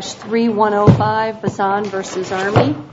3105 Bazan v. Army 3135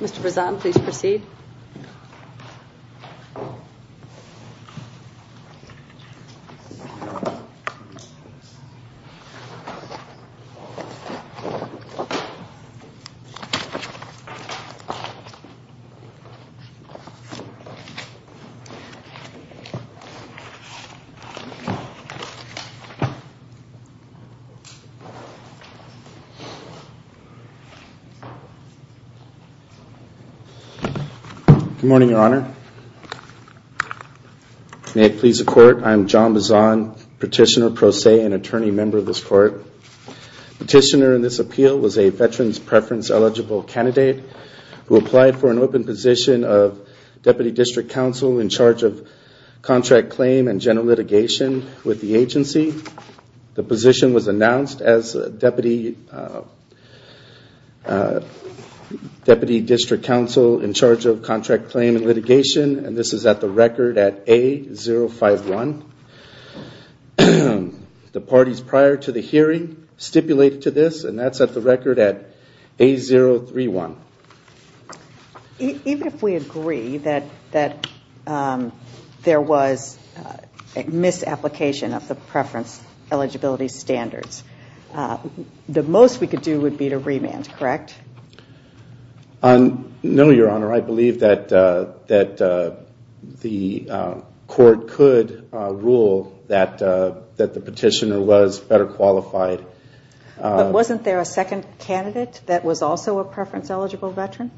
Mr. Bazan, please proceed. Good morning, Your Honor. May it please the Court, I am John Bazan, Petitioner pro se and attorney member of this Court. Petitioner in this appeal was a Veterans Preference Eligible Candidate who applied for an open position of Deputy District Counsel in charge of contract claim and general litigation with the agency. The position was announced as Deputy District Counsel in charge of contract claim and litigation and this is at the record at A051. The parties prior to the hearing stipulated to this and that's at the record at A031. Even if we agree that there was a misapplication of the preference eligibility standards, the most we could do would be to remand, correct? No, Your Honor. I believe that the Court could rule that the petitioner was better qualified. But wasn't there a second candidate that was also a preference eligible veteran?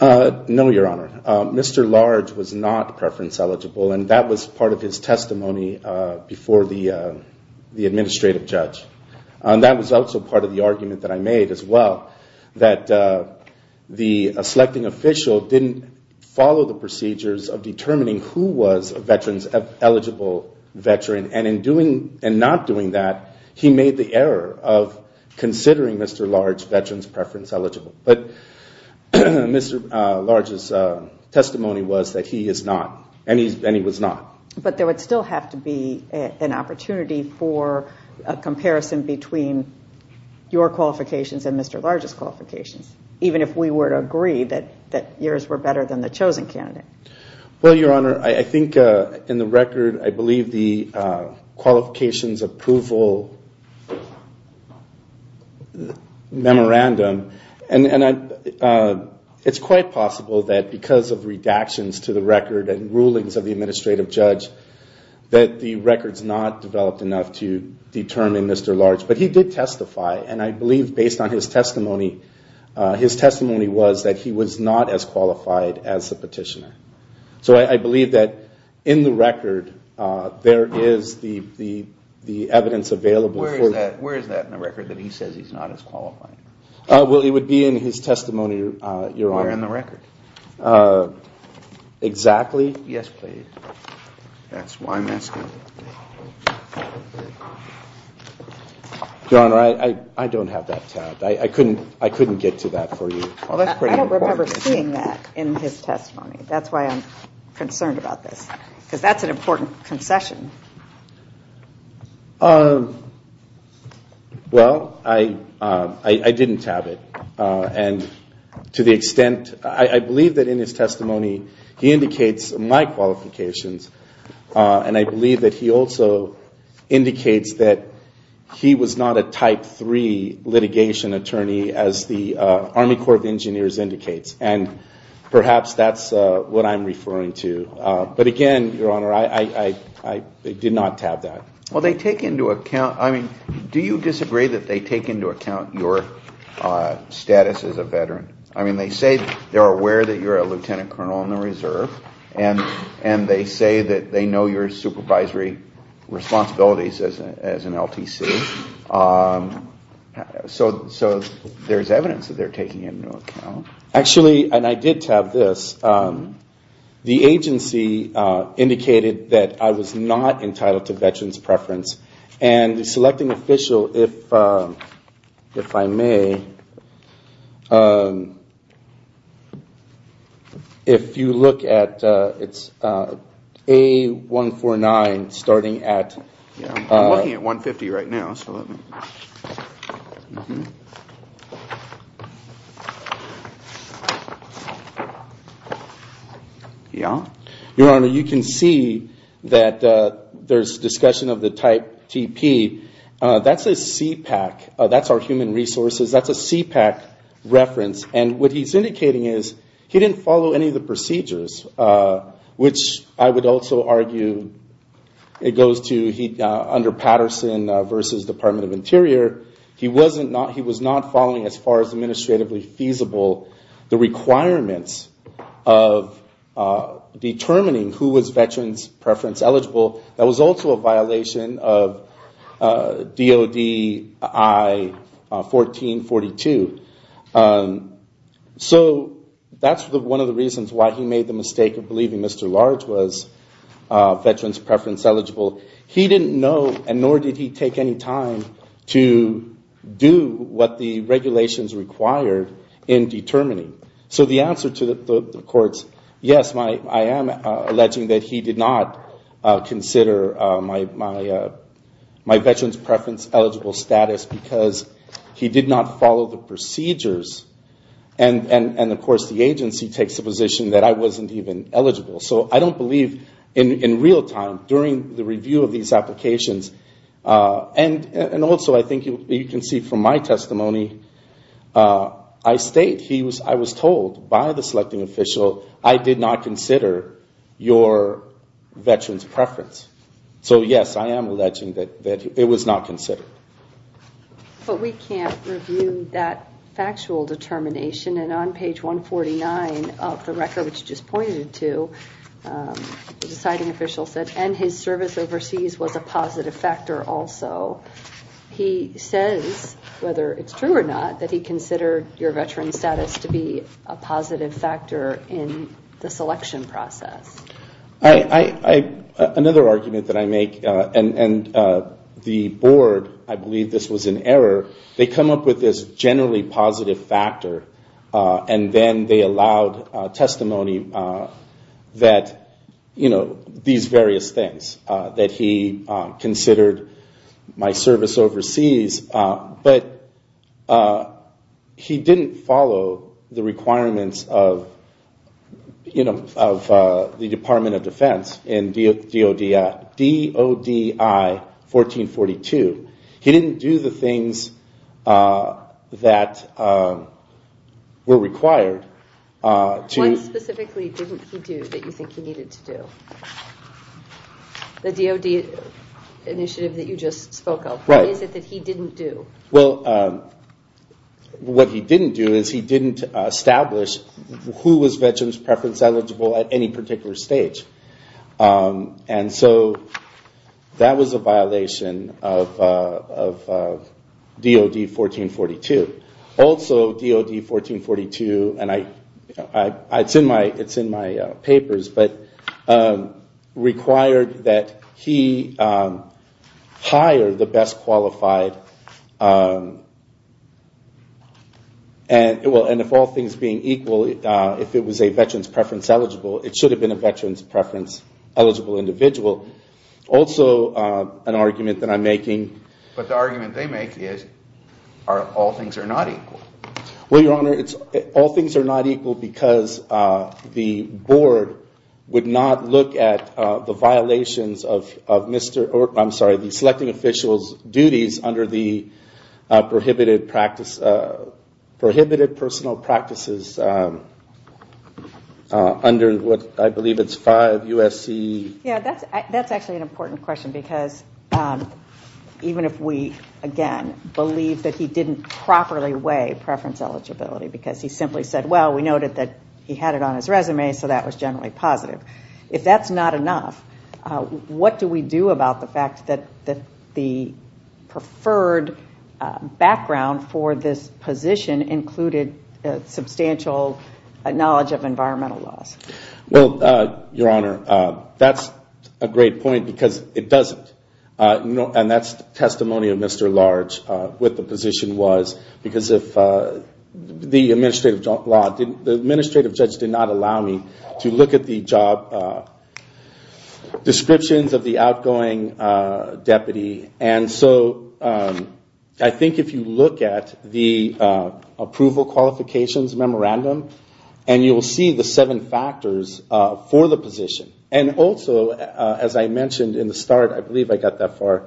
No, Your Honor. Mr. Large was not preference eligible and that was part of his testimony before the administrative judge. That was also part of the argument that I made as well that the selecting official didn't follow the procedures of determining who was a veterans eligible veteran and in doing and not doing that, he made the error of considering Mr. Large veterans preference eligible. But Mr. Large's testimony was that he is not and he was not. But there would still have to be an opportunity for a comparison between your qualifications and Mr. Large's qualifications even if we were to agree that yours were better than the chosen candidate. Well, Your Honor, I think in the record I believe the qualifications approval memorandum and it's quite possible that because of redactions to the record and rulings of the administrative judge that the record's not developed enough to determine Mr. Large. But he did testify and I believe based on his testimony, his testimony was that he was not as qualified as the petitioner. So I believe that in the record there is the evidence available. Where is that in the record that he says he's not as qualified? Well, it would be in his testimony, Your Honor. Where in the record? Exactly. Yes, please. That's why I'm asking. Your Honor, I don't have that tabbed. I couldn't get to that for you. I don't remember seeing that in his testimony. That's why I'm concerned about this because that's an important concession. Well, I didn't tab it. And to the extent, I believe that in his testimony he indicates my qualifications and I believe that he also indicates that he was not a type 3 litigation attorney as the Army Corps of Engineers indicates. And perhaps that's what I'm referring to. But again, Your Honor, I did not tab that. Well, they take into account, I mean, do you disagree that they take into account your status as a veteran? I mean, they say they're aware that you're a lieutenant colonel in the reserve and they say that they know your supervisory responsibilities as an LTC. So there's evidence that they're taking into account. Actually, and I did tab this, the agency indicated that I was not entitled to veteran's preference. And the selecting official, if I may, if you look at, it's A149 starting at... I'm looking at 150 right now. Your Honor, you can see that there's discussion of the type TP. That's a CPAC. That's our human resources. That's a CPAC reference. And what he's indicating is he didn't follow any of the procedures, which I would also argue it goes to under Patterson v. Department of Interior, he was not following as far as administratively feasible the requirements of determining who was veteran's preference eligible. That was also a violation of DOD I-1442. So that's one of the reasons why he made the mistake of believing Mr. Large was veteran's preference eligible. He didn't know and nor did he take any time to do what the regulations required in determining. So the answer to the courts, yes, I am alleging that he did not consider my veteran's preference eligible status because he did not follow the procedures. And of course, the agency takes the position that I wasn't even eligible. So I don't believe in real time during the review of these applications, and also I think you can see from my testimony, I state I was told by the selecting official I did not consider your veteran's preference. So yes, I am alleging that it was not considered. But we can't review that factual determination, and on page 149 of the record, which you just pointed to, the deciding official said, and his service overseas was a positive factor also. He says, whether it's true or not, that he considered your veteran's status to be a positive factor in the selection process. Another argument that I make, and the board, I believe this was an error, they come up with this generally positive factor, and then they allowed testimony that these various things. That he considered my service overseas, but he didn't follow the requirements of the Department of Defense in DODI 1442. He didn't do the things that were required. What specifically didn't he do that you think he needed to do? The DOD initiative that you just spoke of, what is it that he didn't do? Well, what he didn't do is he didn't establish who was veteran's preference eligible at any particular stage. And so that was a violation of DOD 1442. Also, DOD 1442, and it's in my papers, but required that he hire the best qualified, and if all things being equal, if it was a veteran's preference eligible, it should have been a veteran's preference eligible individual. Also, an argument that I'm making... But the argument they make is all things are not equal. Well, your honor, all things are not equal because the board would not look at the violations of the selecting official's duties under the prohibited personal practices under what I believe it's 5 USC... Yeah, that's actually an important question because even if we, again, believe that he didn't properly weigh preference eligibility because he simply said, well, we noted that he had it on his resume, so that was generally positive. If that's not enough, what do we do about the fact that the preferred background for this position included substantial knowledge of environmental laws? Well, your honor, that's a great point because it doesn't. And that's testimony of Mr. Large, what the position was, because the administrative judge did not allow me to look at the job descriptions of the outgoing deputy. And so I think if you look at the approval qualifications memorandum, and you'll see the seven factors for the position. And also, as I mentioned in the start, I believe I got that far,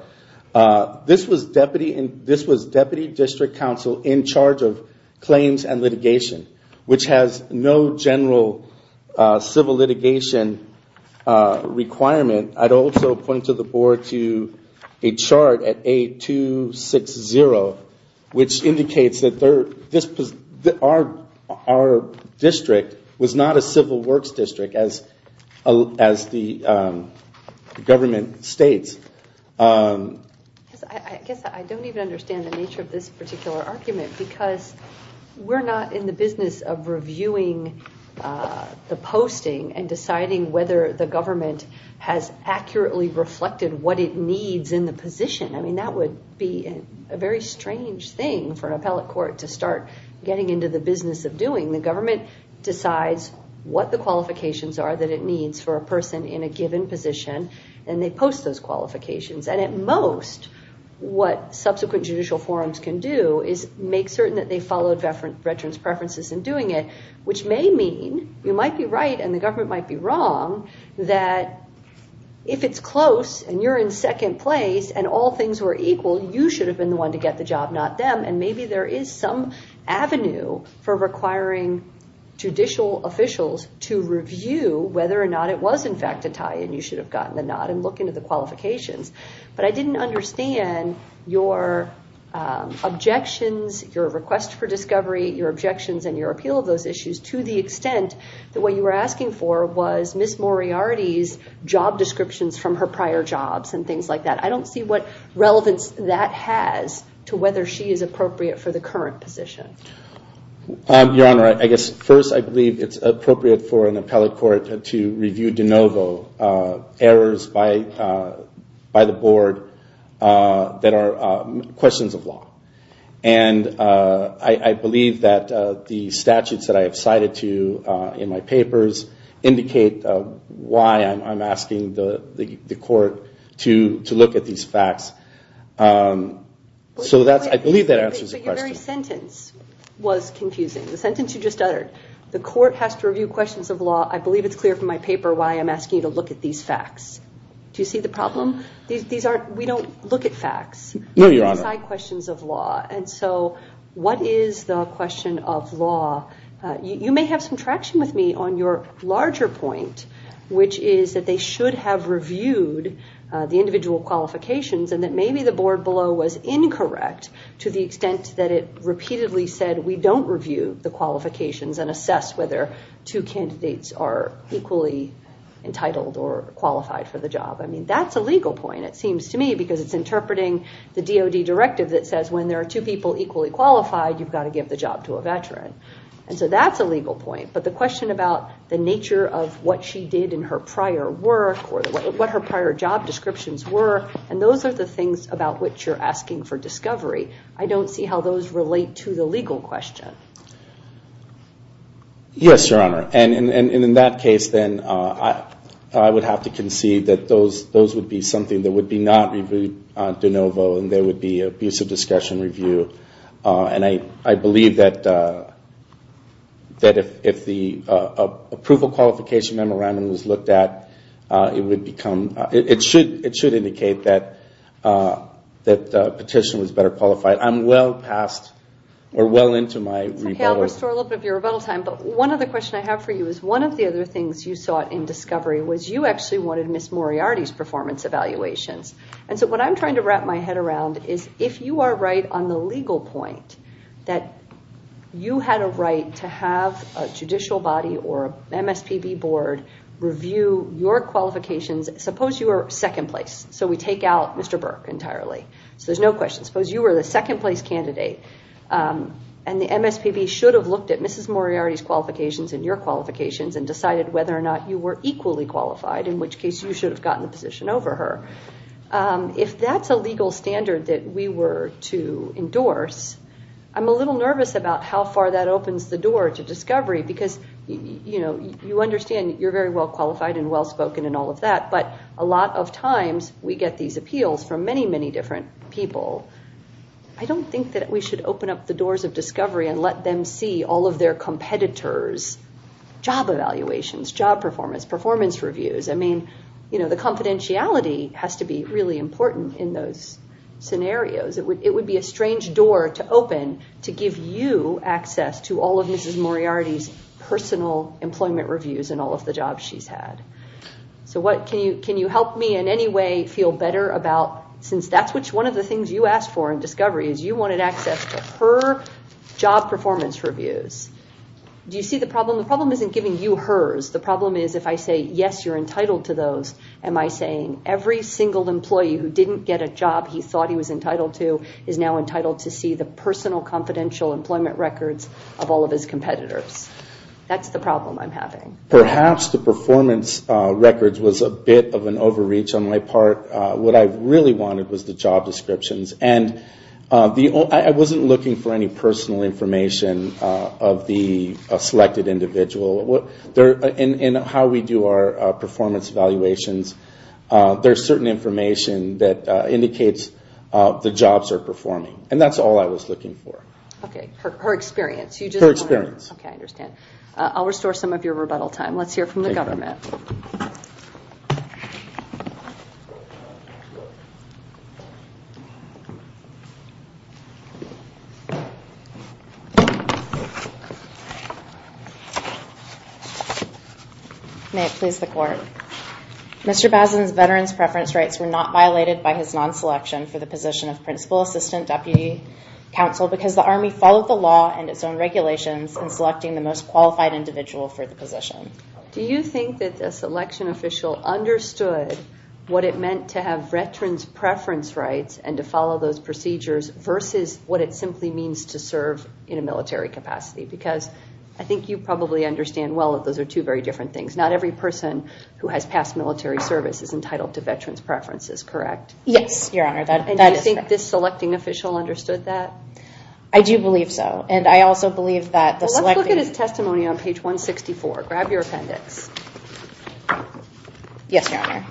this was deputy district counsel in charge of claims and litigation, which has no general civil litigation requirement. I'd also point to the board to a chart at A260, which indicates that our district was not a civil works district, as the government states. I guess I don't even understand the nature of this particular argument, because we're not in the business of reviewing the posting and deciding whether the government has accurately reflected what it needs in the position. I mean, that would be a very strange thing for an appellate court to start getting into the business of doing. The government decides what the qualifications are that it needs for a person in a given position, and they post those qualifications. And at most, what subsequent judicial forums can do is make certain that they followed veterans' preferences in doing it. Which may mean, you might be right and the government might be wrong, that if it's close and you're in second place and all things were equal, you should have been the one to get the job, not them. And maybe there is some avenue for requiring judicial officials to review whether or not it was, in fact, a tie, and you should have gotten the nod and looked into the qualifications. But I didn't understand your objections, your request for discovery, your objections, and your appeal of those issues to the extent that what you were asking for was Miss Moriarty's job descriptions from her prior jobs and things like that. I don't see what relevance that has to whether she is appropriate for the current position. Your Honor, I guess first I believe it's appropriate for an appellate court to review de novo errors by the board that are questions of law. And I believe that the statutes that I have cited to you in my papers indicate why I'm asking the court to look at these facts. So I believe that answers the question. But your very sentence was confusing. The sentence you just uttered, the court has to review questions of law. I believe it's clear from my paper why I'm asking you to look at these facts. Do you see the problem? We don't look at facts. No, Your Honor. We look at side questions of law. And so what is the question of law? You may have some traction with me on your larger point, which is that they should have reviewed the individual qualifications and that maybe the board below was incorrect to the extent that it repeatedly said, we don't review the qualifications and assess whether two candidates are equally entitled or qualified for the job. I mean, that's a legal point, it seems to me, because it's interpreting the DOD directive that says when there are two people equally qualified, you've got to give the job to a veteran. And so that's a legal point. But the question about the nature of what she did in her prior work or what her prior job descriptions were, and those are the things about which you're asking for discovery. I don't see how those relate to the legal question. Yes, Your Honor. And in that case, then, I would have to concede that those would be something that would be not reviewed de novo and there would be abusive discussion review. And I believe that if the approval qualification memorandum was looked at, it should indicate that the petition was better qualified. I'm well past or well into my rebuttal. But one other question I have for you is one of the other things you sought in discovery was you actually wanted Ms. Moriarty's performance evaluations. And so what I'm trying to wrap my head around is if you are right on the legal point that you had a right to have a judicial body or MSPB board review your qualifications. Suppose you were second place. So we take out Mr. Burke entirely. So there's no question. Suppose you were the second place candidate and the MSPB should have looked at Mrs. Moriarty's qualifications and your qualifications and decided whether or not you were equally qualified, in which case you should have gotten the position over her. If that's a legal standard that we were to endorse, I'm a little nervous about how far that opens the door to discovery because, you know, you understand you're very well qualified and well spoken and all of that. But a lot of times we get these appeals from many, many different people. I don't think that we should open up the doors of discovery and let them see all of their competitors' job evaluations, job performance, performance reviews. I mean, you know, the confidentiality has to be really important in those scenarios. It would be a strange door to open to give you access to all of Mrs. Moriarty's personal employment reviews and all of the jobs she's had. So can you help me in any way feel better about, since that's one of the things you asked for in discovery is you wanted access to her job performance reviews. Do you see the problem? The problem isn't giving you hers. The problem is if I say, yes, you're entitled to those, am I saying every single employee who didn't get a job he thought he was entitled to is now entitled to see the personal confidential employment records of all of his competitors? That's the problem I'm having. Perhaps the performance records was a bit of an overreach on my part. What I really wanted was the job descriptions. And I wasn't looking for any personal information of the selected individual. In how we do our performance evaluations, there's certain information that indicates the jobs are performing. And that's all I was looking for. Okay. Her experience. Her experience. Okay, I understand. I'll restore some of your rebuttal time. Let's hear from the government. May it please the court. Mr. Bazin's veterans' preference rights were not violated by his non-selection for the position of principal assistant deputy counsel because the Army followed the law and its own regulations in selecting the most qualified individual for the position. Do you think that the selection official understood what it meant to have veterans' preference rights and to follow those procedures versus what it simply means to serve in a military capacity? Because I think you probably understand well that those are two very different things. Not every person who has passed military service is entitled to veterans' preferences, correct? Yes, Your Honor, that is correct. And do you think this selecting official understood that? I do believe so. And I also believe that the selecting... Well, let's look at his testimony on page 164. Grab your appendix. Yes, Your Honor.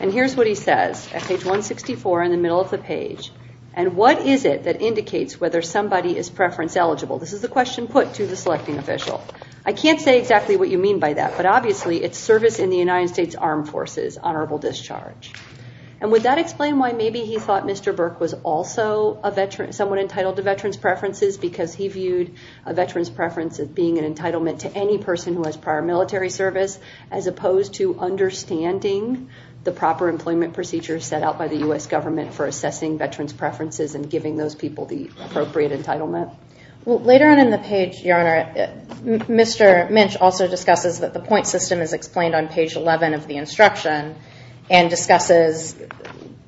And here's what he says at page 164 in the middle of the page. And what is it that indicates whether somebody is preference eligible? This is the question put to the selecting official. I can't say exactly what you mean by that, but obviously it's service in the United States Armed Forces, honorable discharge. And would that explain why maybe he thought Mr. Burke was also someone entitled to veterans' preferences because he viewed a veterans' preference as being an entitlement to any person who has prior military service as opposed to understanding the proper employment procedures set out by the U.S. government for assessing veterans' preferences and giving those people the appropriate entitlement? Well, later on in the page, Your Honor, Mr. Minch also discusses that the point system is explained on page 11 of the instruction and discusses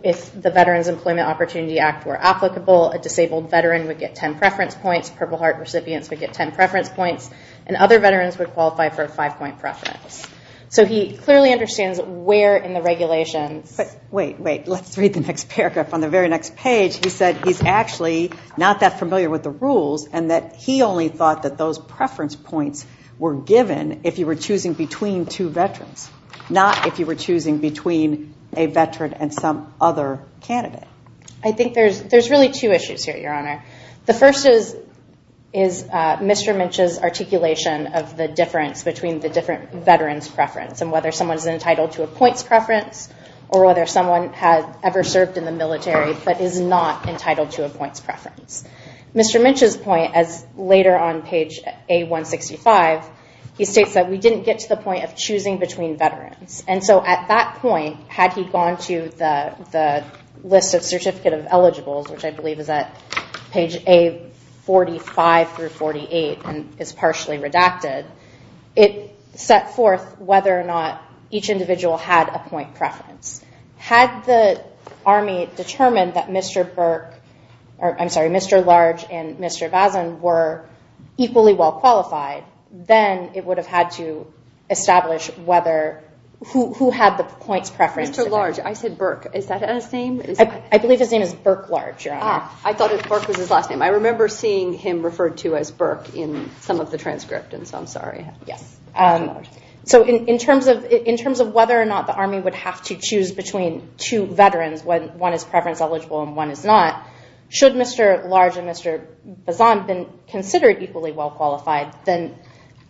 if the Veterans Employment Opportunity Act were applicable, a disabled veteran would get ten preference points, Purple Heart recipients would get ten preference points, and other veterans would qualify for a five-point preference. So he clearly understands where in the regulations... But wait, wait. Let's read the next paragraph. On the very next page, he said he's actually not that familiar with the rules and that he only thought that those preference points were given if you were choosing between two veterans, not if you were choosing between a veteran and some other candidate. I think there's really two issues here, Your Honor. The first is Mr. Minch's articulation of the difference between the different veterans' preference and whether someone is entitled to a points preference or whether someone has ever served in the military but is not entitled to a points preference. Mr. Minch's point, as later on page A-165, he states that we didn't get to the point of choosing between veterans. And so at that point, had he gone to the list of certificate of eligibles, which I believe is at page A-45 through 48 and is partially redacted, it set forth whether or not each individual had a point preference. Had the Army determined that Mr. Large and Mr. Vazen were equally well qualified, then it would have had to establish who had the points preference. Mr. Large, I said Burke. Is that his name? I believe his name is Burke Large, Your Honor. I thought Burke was his last name. I remember seeing him referred to as Burke in some of the transcript, and so I'm sorry. Yes. So in terms of whether or not the Army would have to choose between two veterans, when one is preference eligible and one is not, should Mr. Large and Mr. Vazen been considered equally well qualified, then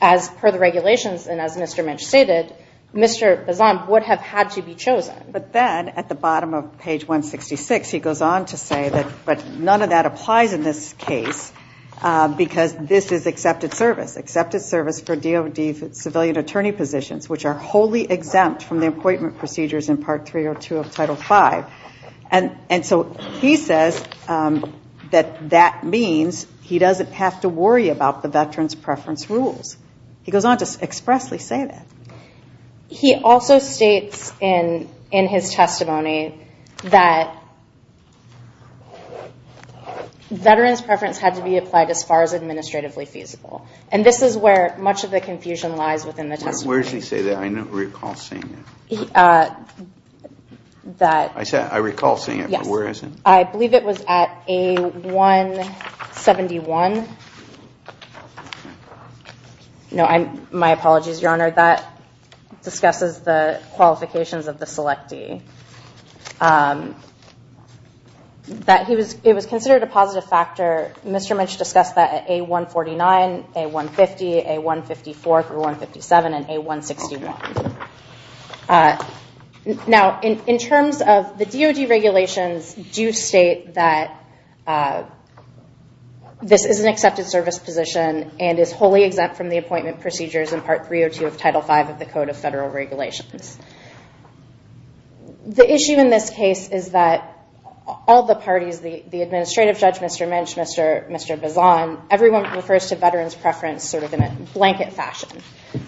as per the regulations and as Mr. Minch stated, Mr. Vazen would have had to be chosen. But then at the bottom of page 166, he goes on to say that none of that applies in this case because this is accepted service. Accepted service for DOD civilian attorney positions, which are wholly exempt from the appointment procedures in Part 302 of Title V. And so he says that that means he doesn't have to worry about the veterans preference rules. He goes on to expressly say that. He also states in his testimony that veterans preference had to be applied as far as administratively feasible. And this is where much of the confusion lies within the testimony. Where does he say that? I don't recall seeing it. I recall seeing it, but where is it? I believe it was at A171. No, my apologies, Your Honor. That discusses the qualifications of the selectee. It was considered a positive factor. Mr. Minch discussed that at A149, A150, A154 through 157 and A161. Now, in terms of the DOD regulations, do state that this is an accepted service position and is wholly exempt from the appointment procedures in Part 302 of Title V of the Code of Federal Regulations. The issue in this case is that all the parties, the administrative judge, Mr. Minch, Mr. Bazan, everyone refers to veterans preference sort of in a blanket fashion.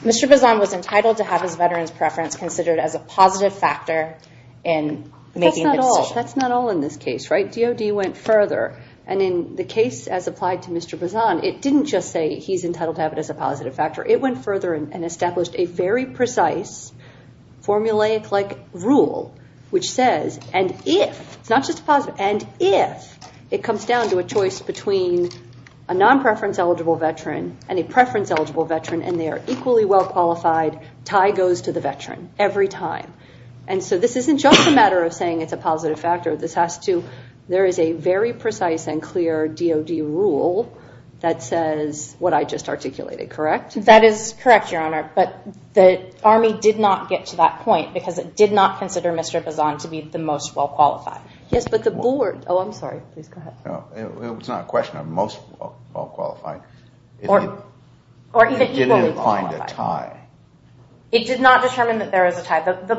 Mr. Bazan was entitled to have his veterans preference considered as a positive factor in making the decision. That's not all in this case, right? DOD went further, and in the case as applied to Mr. Bazan, it didn't just say he's entitled to have it as a positive factor. It went further and established a very precise, formulaic-like rule which says, and if, it's not just a positive, and if it comes down to a choice between a non-preference eligible veteran and a preference eligible veteran and they are equally well-qualified, tie goes to the veteran every time. And so this isn't just a matter of saying it's a positive factor. This has to, there is a very precise and clear DOD rule that says what I just articulated, correct? That is correct, Your Honor, but the Army did not get to that point because it did not consider Mr. Bazan to be the most well-qualified. Yes, but the board, oh, I'm sorry, please go ahead. It's not a question of most well-qualified. Or even equally well-qualified. It didn't find a tie. It did not determine that there was a tie. The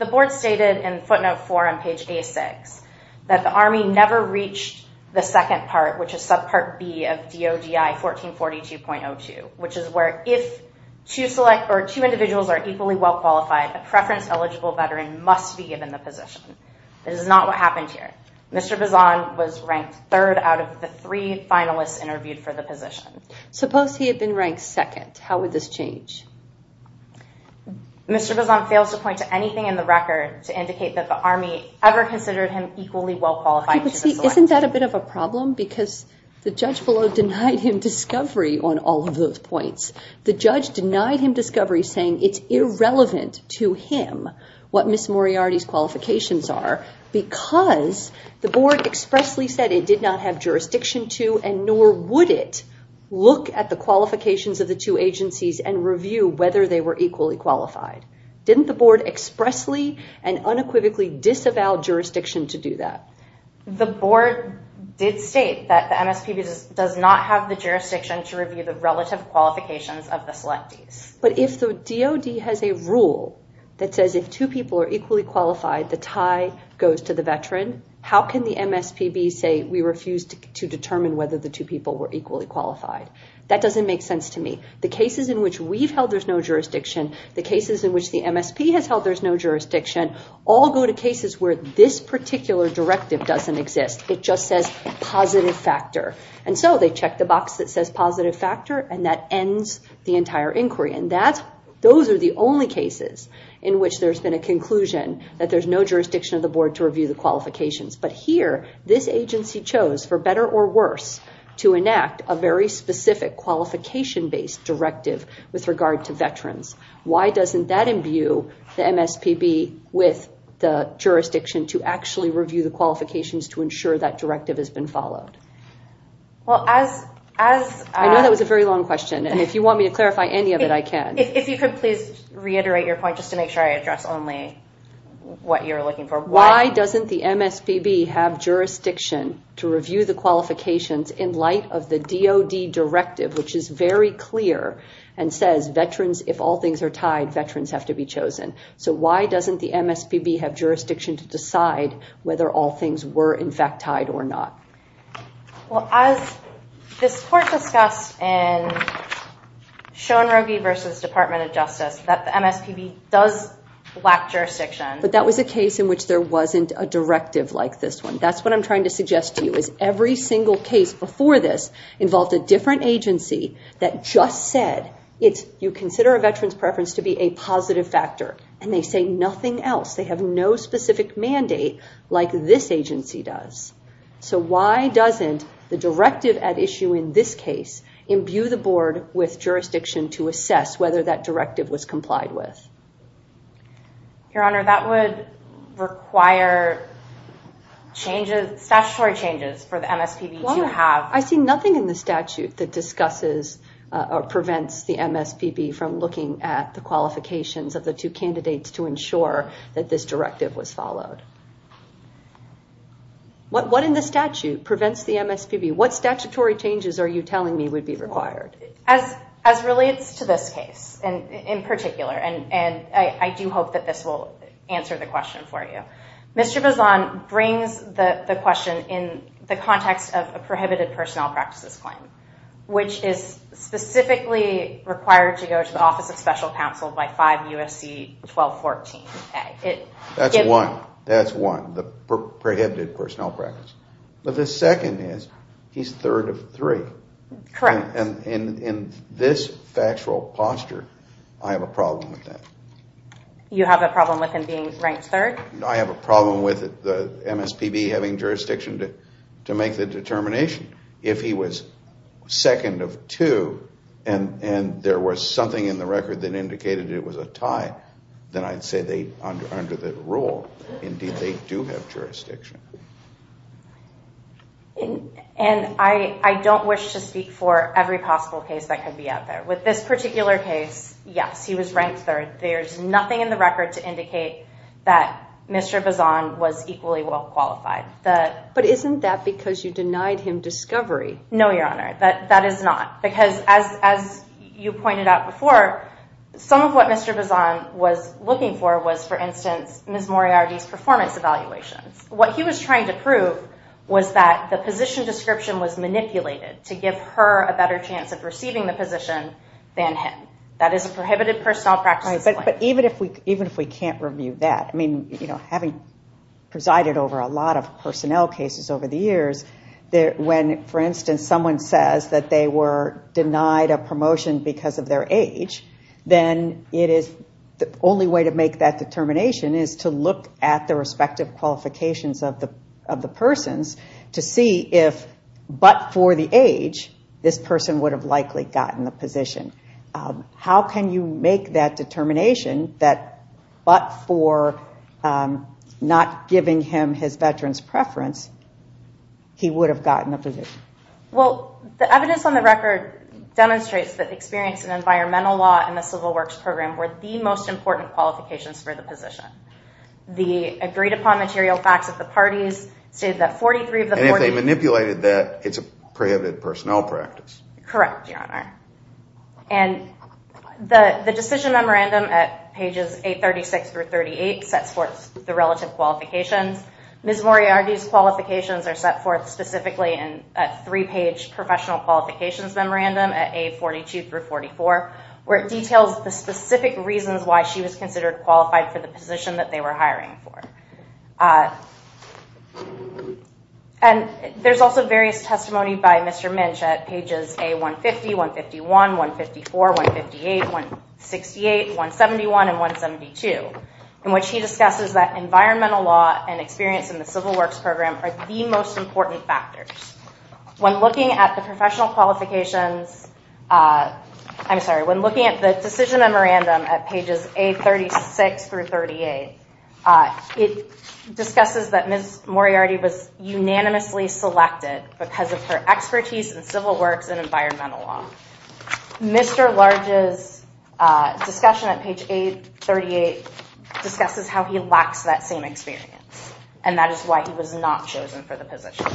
board stated in footnote four on page A6 that the Army never reached the second part, which is subpart B of DODI 1442.02, which is where if two individuals are equally well-qualified, a preference eligible veteran must be given the position. That is not what happened here. Mr. Bazan was ranked third out of the three finalists interviewed for the position. Suppose he had been ranked second. How would this change? Mr. Bazan fails to point to anything in the record to indicate that the Army ever considered him equally well-qualified. See, isn't that a bit of a problem? Because the judge below denied him discovery on all of those points. The judge denied him discovery saying it's irrelevant to him what Ms. Moriarty's qualifications are because the board expressly said it did not have jurisdiction to and nor would it look at the qualifications of the two agencies and review whether they were equally qualified. Didn't the board expressly and unequivocally disavow jurisdiction to do that? The board did state that the MSPB does not have the jurisdiction to review the relative qualifications of the selectees. But if the DOD has a rule that says if two people are equally qualified, the tie goes to the veteran, how can the MSPB say we refuse to determine whether the two people were equally qualified? That doesn't make sense to me. The cases in which we've held there's no jurisdiction, the cases in which the MSP has held there's no jurisdiction, all go to cases where this particular directive doesn't exist. It just says positive factor. They check the box that says positive factor and that ends the entire inquiry. Those are the only cases in which there's been a conclusion that there's no jurisdiction of the board to review the qualifications. But here, this agency chose for better or worse to enact a very specific qualification-based directive with regard to veterans. Why doesn't that imbue the MSPB with the jurisdiction to actually review the qualifications to ensure that directive has been followed? I know that was a very long question and if you want me to clarify any of it, I can. If you could please reiterate your point just to make sure I address only what you're looking for. Why doesn't the MSPB have jurisdiction to review the qualifications in light of the DOD directive, which is very clear and says veterans, if all things are tied, veterans have to be chosen. So why doesn't the MSPB have jurisdiction to decide whether all things were in fact tied or not? Well, as this court discussed in Schoenrogi versus Department of Justice, that the MSPB does lack jurisdiction. But that was a case in which there wasn't a directive like this one. That's what I'm trying to suggest to you is every single case before this involved a different agency that just said, you consider a veteran's preference to be a positive factor and they say nothing else. They have no specific mandate like this agency does. So why doesn't the directive at issue in this case imbue the board with jurisdiction to assess whether that directive was complied with? Your Honor, that would require statutory changes for the MSPB to have. I see nothing in the statute that discusses or prevents the MSPB from looking at the qualifications of the two candidates to ensure that this directive was followed. What in the statute prevents the MSPB, what statutory changes are you telling me would be required? As relates to this case in particular, and I do hope that this will answer the question for you, Mr. Bazan brings the question in the context of a prohibited personnel practices claim, which is specifically required to go to the Office of Special Counsel by 5 U.S.C. 1214a. That's one, that's one, the prohibited personnel practice. But the second is he's third of three. Correct. And in this factual posture, I have a problem with that. You have a problem with him being ranked third? I have a problem with the MSPB having jurisdiction to make the determination. If he was second of two and there was something in the record that indicated it was a tie, then I'd say they, under the rule, indeed they do have jurisdiction. And I don't wish to speak for every possible case that could be out there. With this particular case, yes, he was ranked third. There's nothing in the record to indicate that Mr. Bazan was equally well qualified. But isn't that because you denied him discovery? No, Your Honor, that is not. Because as you pointed out before, some of what Mr. Bazan was looking for was, for instance, Ms. Moriarty's performance evaluations. What he was trying to prove was that the position description was manipulated to give her a better chance of receiving the position than him. That is a prohibited personnel practice. But even if we can't review that, I mean, you know, having presided over a lot of personnel cases over the years, when, for instance, someone says that they were denied a promotion because of their age, then the only way to make that determination is to look at the respective qualifications of the persons to see if, but for the age, this person would have likely gotten the position. How can you make that determination that, but for not giving him his veteran's preference, he would have gotten the position? Well, the evidence on the record demonstrates that experience in environmental law and the civil works program were the most important qualifications for the position. The agreed upon material facts of the parties state that 43 of the 40- And if they manipulated that, it's a prohibited personnel practice. Correct, Your Honor. And the decision memorandum at pages 836 through 38 sets forth the relative qualifications. Ms. Moriarty's qualifications are set forth specifically in a three-page professional qualifications memorandum at A42 through 44, where it details the specific reasons why she was considered qualified for the position that they were hiring for. And there's also various testimony by Mr. Minch at pages A150, 151, 154, 158, 168, 171, and 172, in which he discusses that environmental law and experience in the civil works program are the most important factors. When looking at the professional qualifications, I'm sorry, when looking at the decision memorandum at pages 836 through 38, it discusses that Ms. Moriarty was unanimously selected because of her expertise in civil works and environmental law. Mr. Large's discussion at page 838 discusses how he lacks that same experience, and that is why he was not chosen for the position.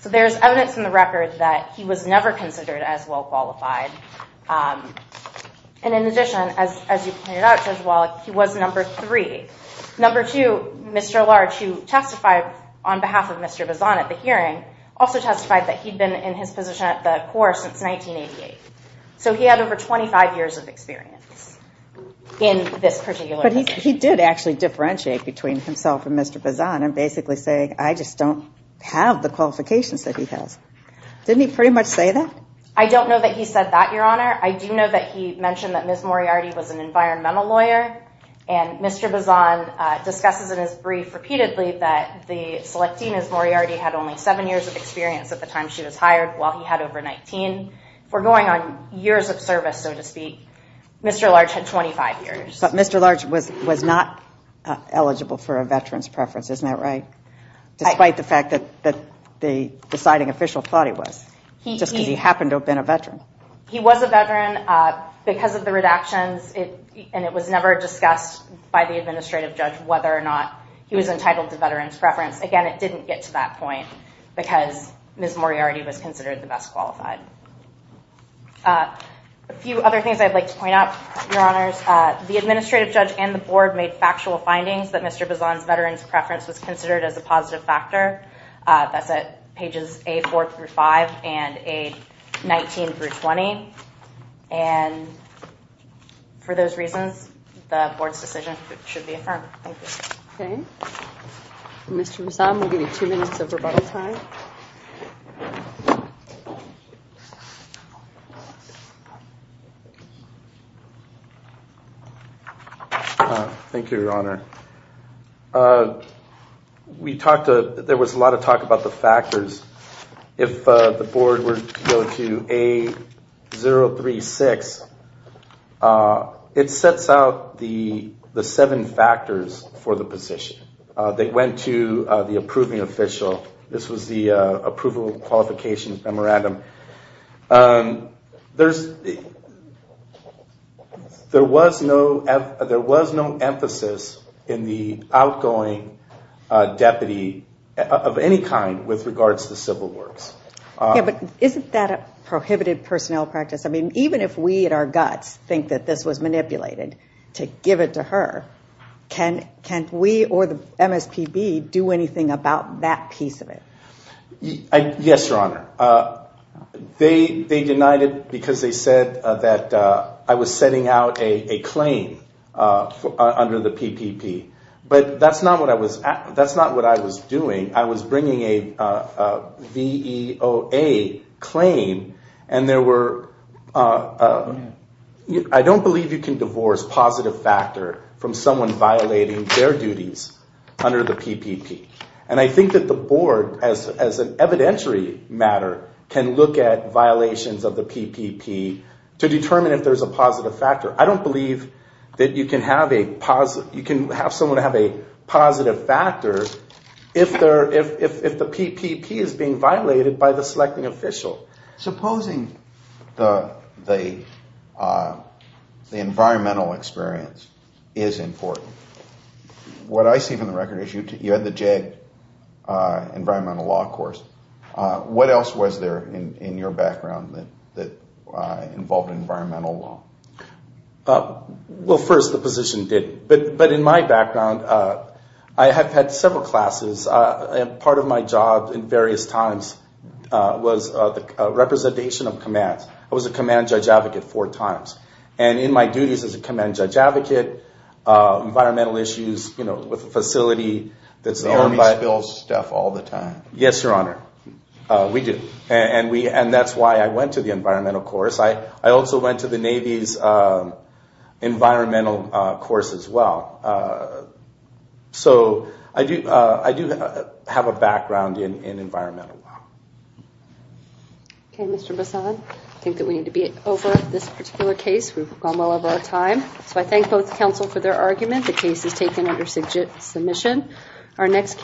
So there's evidence in the record that he was never considered as well qualified. And in addition, as you pointed out, Judge Wallach, he was number three. Number two, Mr. Large, who testified on behalf of Mr. Bazan at the hearing, also testified that he'd been in his position at the Corps since 1988. So he had over 25 years of experience in this particular position. But he did actually differentiate between himself and Mr. Bazan and basically say, I just don't have the qualifications that he has. Didn't he pretty much say that? I don't know that he said that, Your Honor. I do know that he mentioned that Ms. Moriarty was an environmental lawyer, and Mr. Bazan discusses in his brief repeatedly that the selecting Ms. Moriarty had only seven years of experience at the time she was hired, while he had over 19. We're going on years of service, so to speak. Mr. Large had 25 years. But Mr. Large was not eligible for a veteran's preference, isn't that right? Despite the fact that the deciding official thought he was, just because he happened to have been a veteran. He was a veteran because of the redactions, and it was never discussed by the administrative judge whether or not he was entitled to veteran's preference. Again, it didn't get to that point because Ms. Moriarty was considered the best qualified. A few other things I'd like to point out, Your Honors. The administrative judge and the board made factual findings that Mr. Bazan's veteran's preference was considered as a positive factor. That's at pages A4 through 5 and A19 through 20. And for those reasons, the board's decision should be affirmed. Okay. Mr. Bazan, we'll give you two minutes of rebuttal time. Thank you, Your Honor. There was a lot of talk about the factors. If the board were to go to A036, it sets out the seven factors for the position. They went to the approving official. This was the approval qualifications memorandum. There was no emphasis in the outgoing deputy of any kind with regards to the civil works. Yeah, but isn't that a prohibited personnel practice? I mean, even if we at our guts think that this was manipulated to give it to her, can we or the MSPB do anything about that piece of it? Yes, Your Honor. They denied it because they said that I was setting out a claim under the PPP. But that's not what I was doing. I was bringing a VEOA claim, and there were... I don't believe you can divorce positive factor from someone violating their duties under the PPP. And I think that the board, as an evidentiary matter, can look at violations of the PPP to determine if there's a positive factor. I don't believe that you can have someone have a positive factor if the PPP is being violated by the selecting official. Supposing the environmental experience is important. What I see from the record is you had the JAG environmental law course. What else was there in your background that involved environmental law? Well, first, the position did. But in my background, I have had several classes. Part of my job in various times was the representation of commands. I was a command judge advocate four times. And in my duties as a command judge advocate, environmental issues with a facility that's owned by... The Army spills stuff all the time. Yes, Your Honor. We do. And that's why I went to the environmental course. I also went to the Navy's environmental course as well. So I do have a background in environmental law. Okay, Mr. Bassad, I think that we need to be over this particular case. We've gone well over our time. So I thank both counsel for their argument. The case is taken under submission.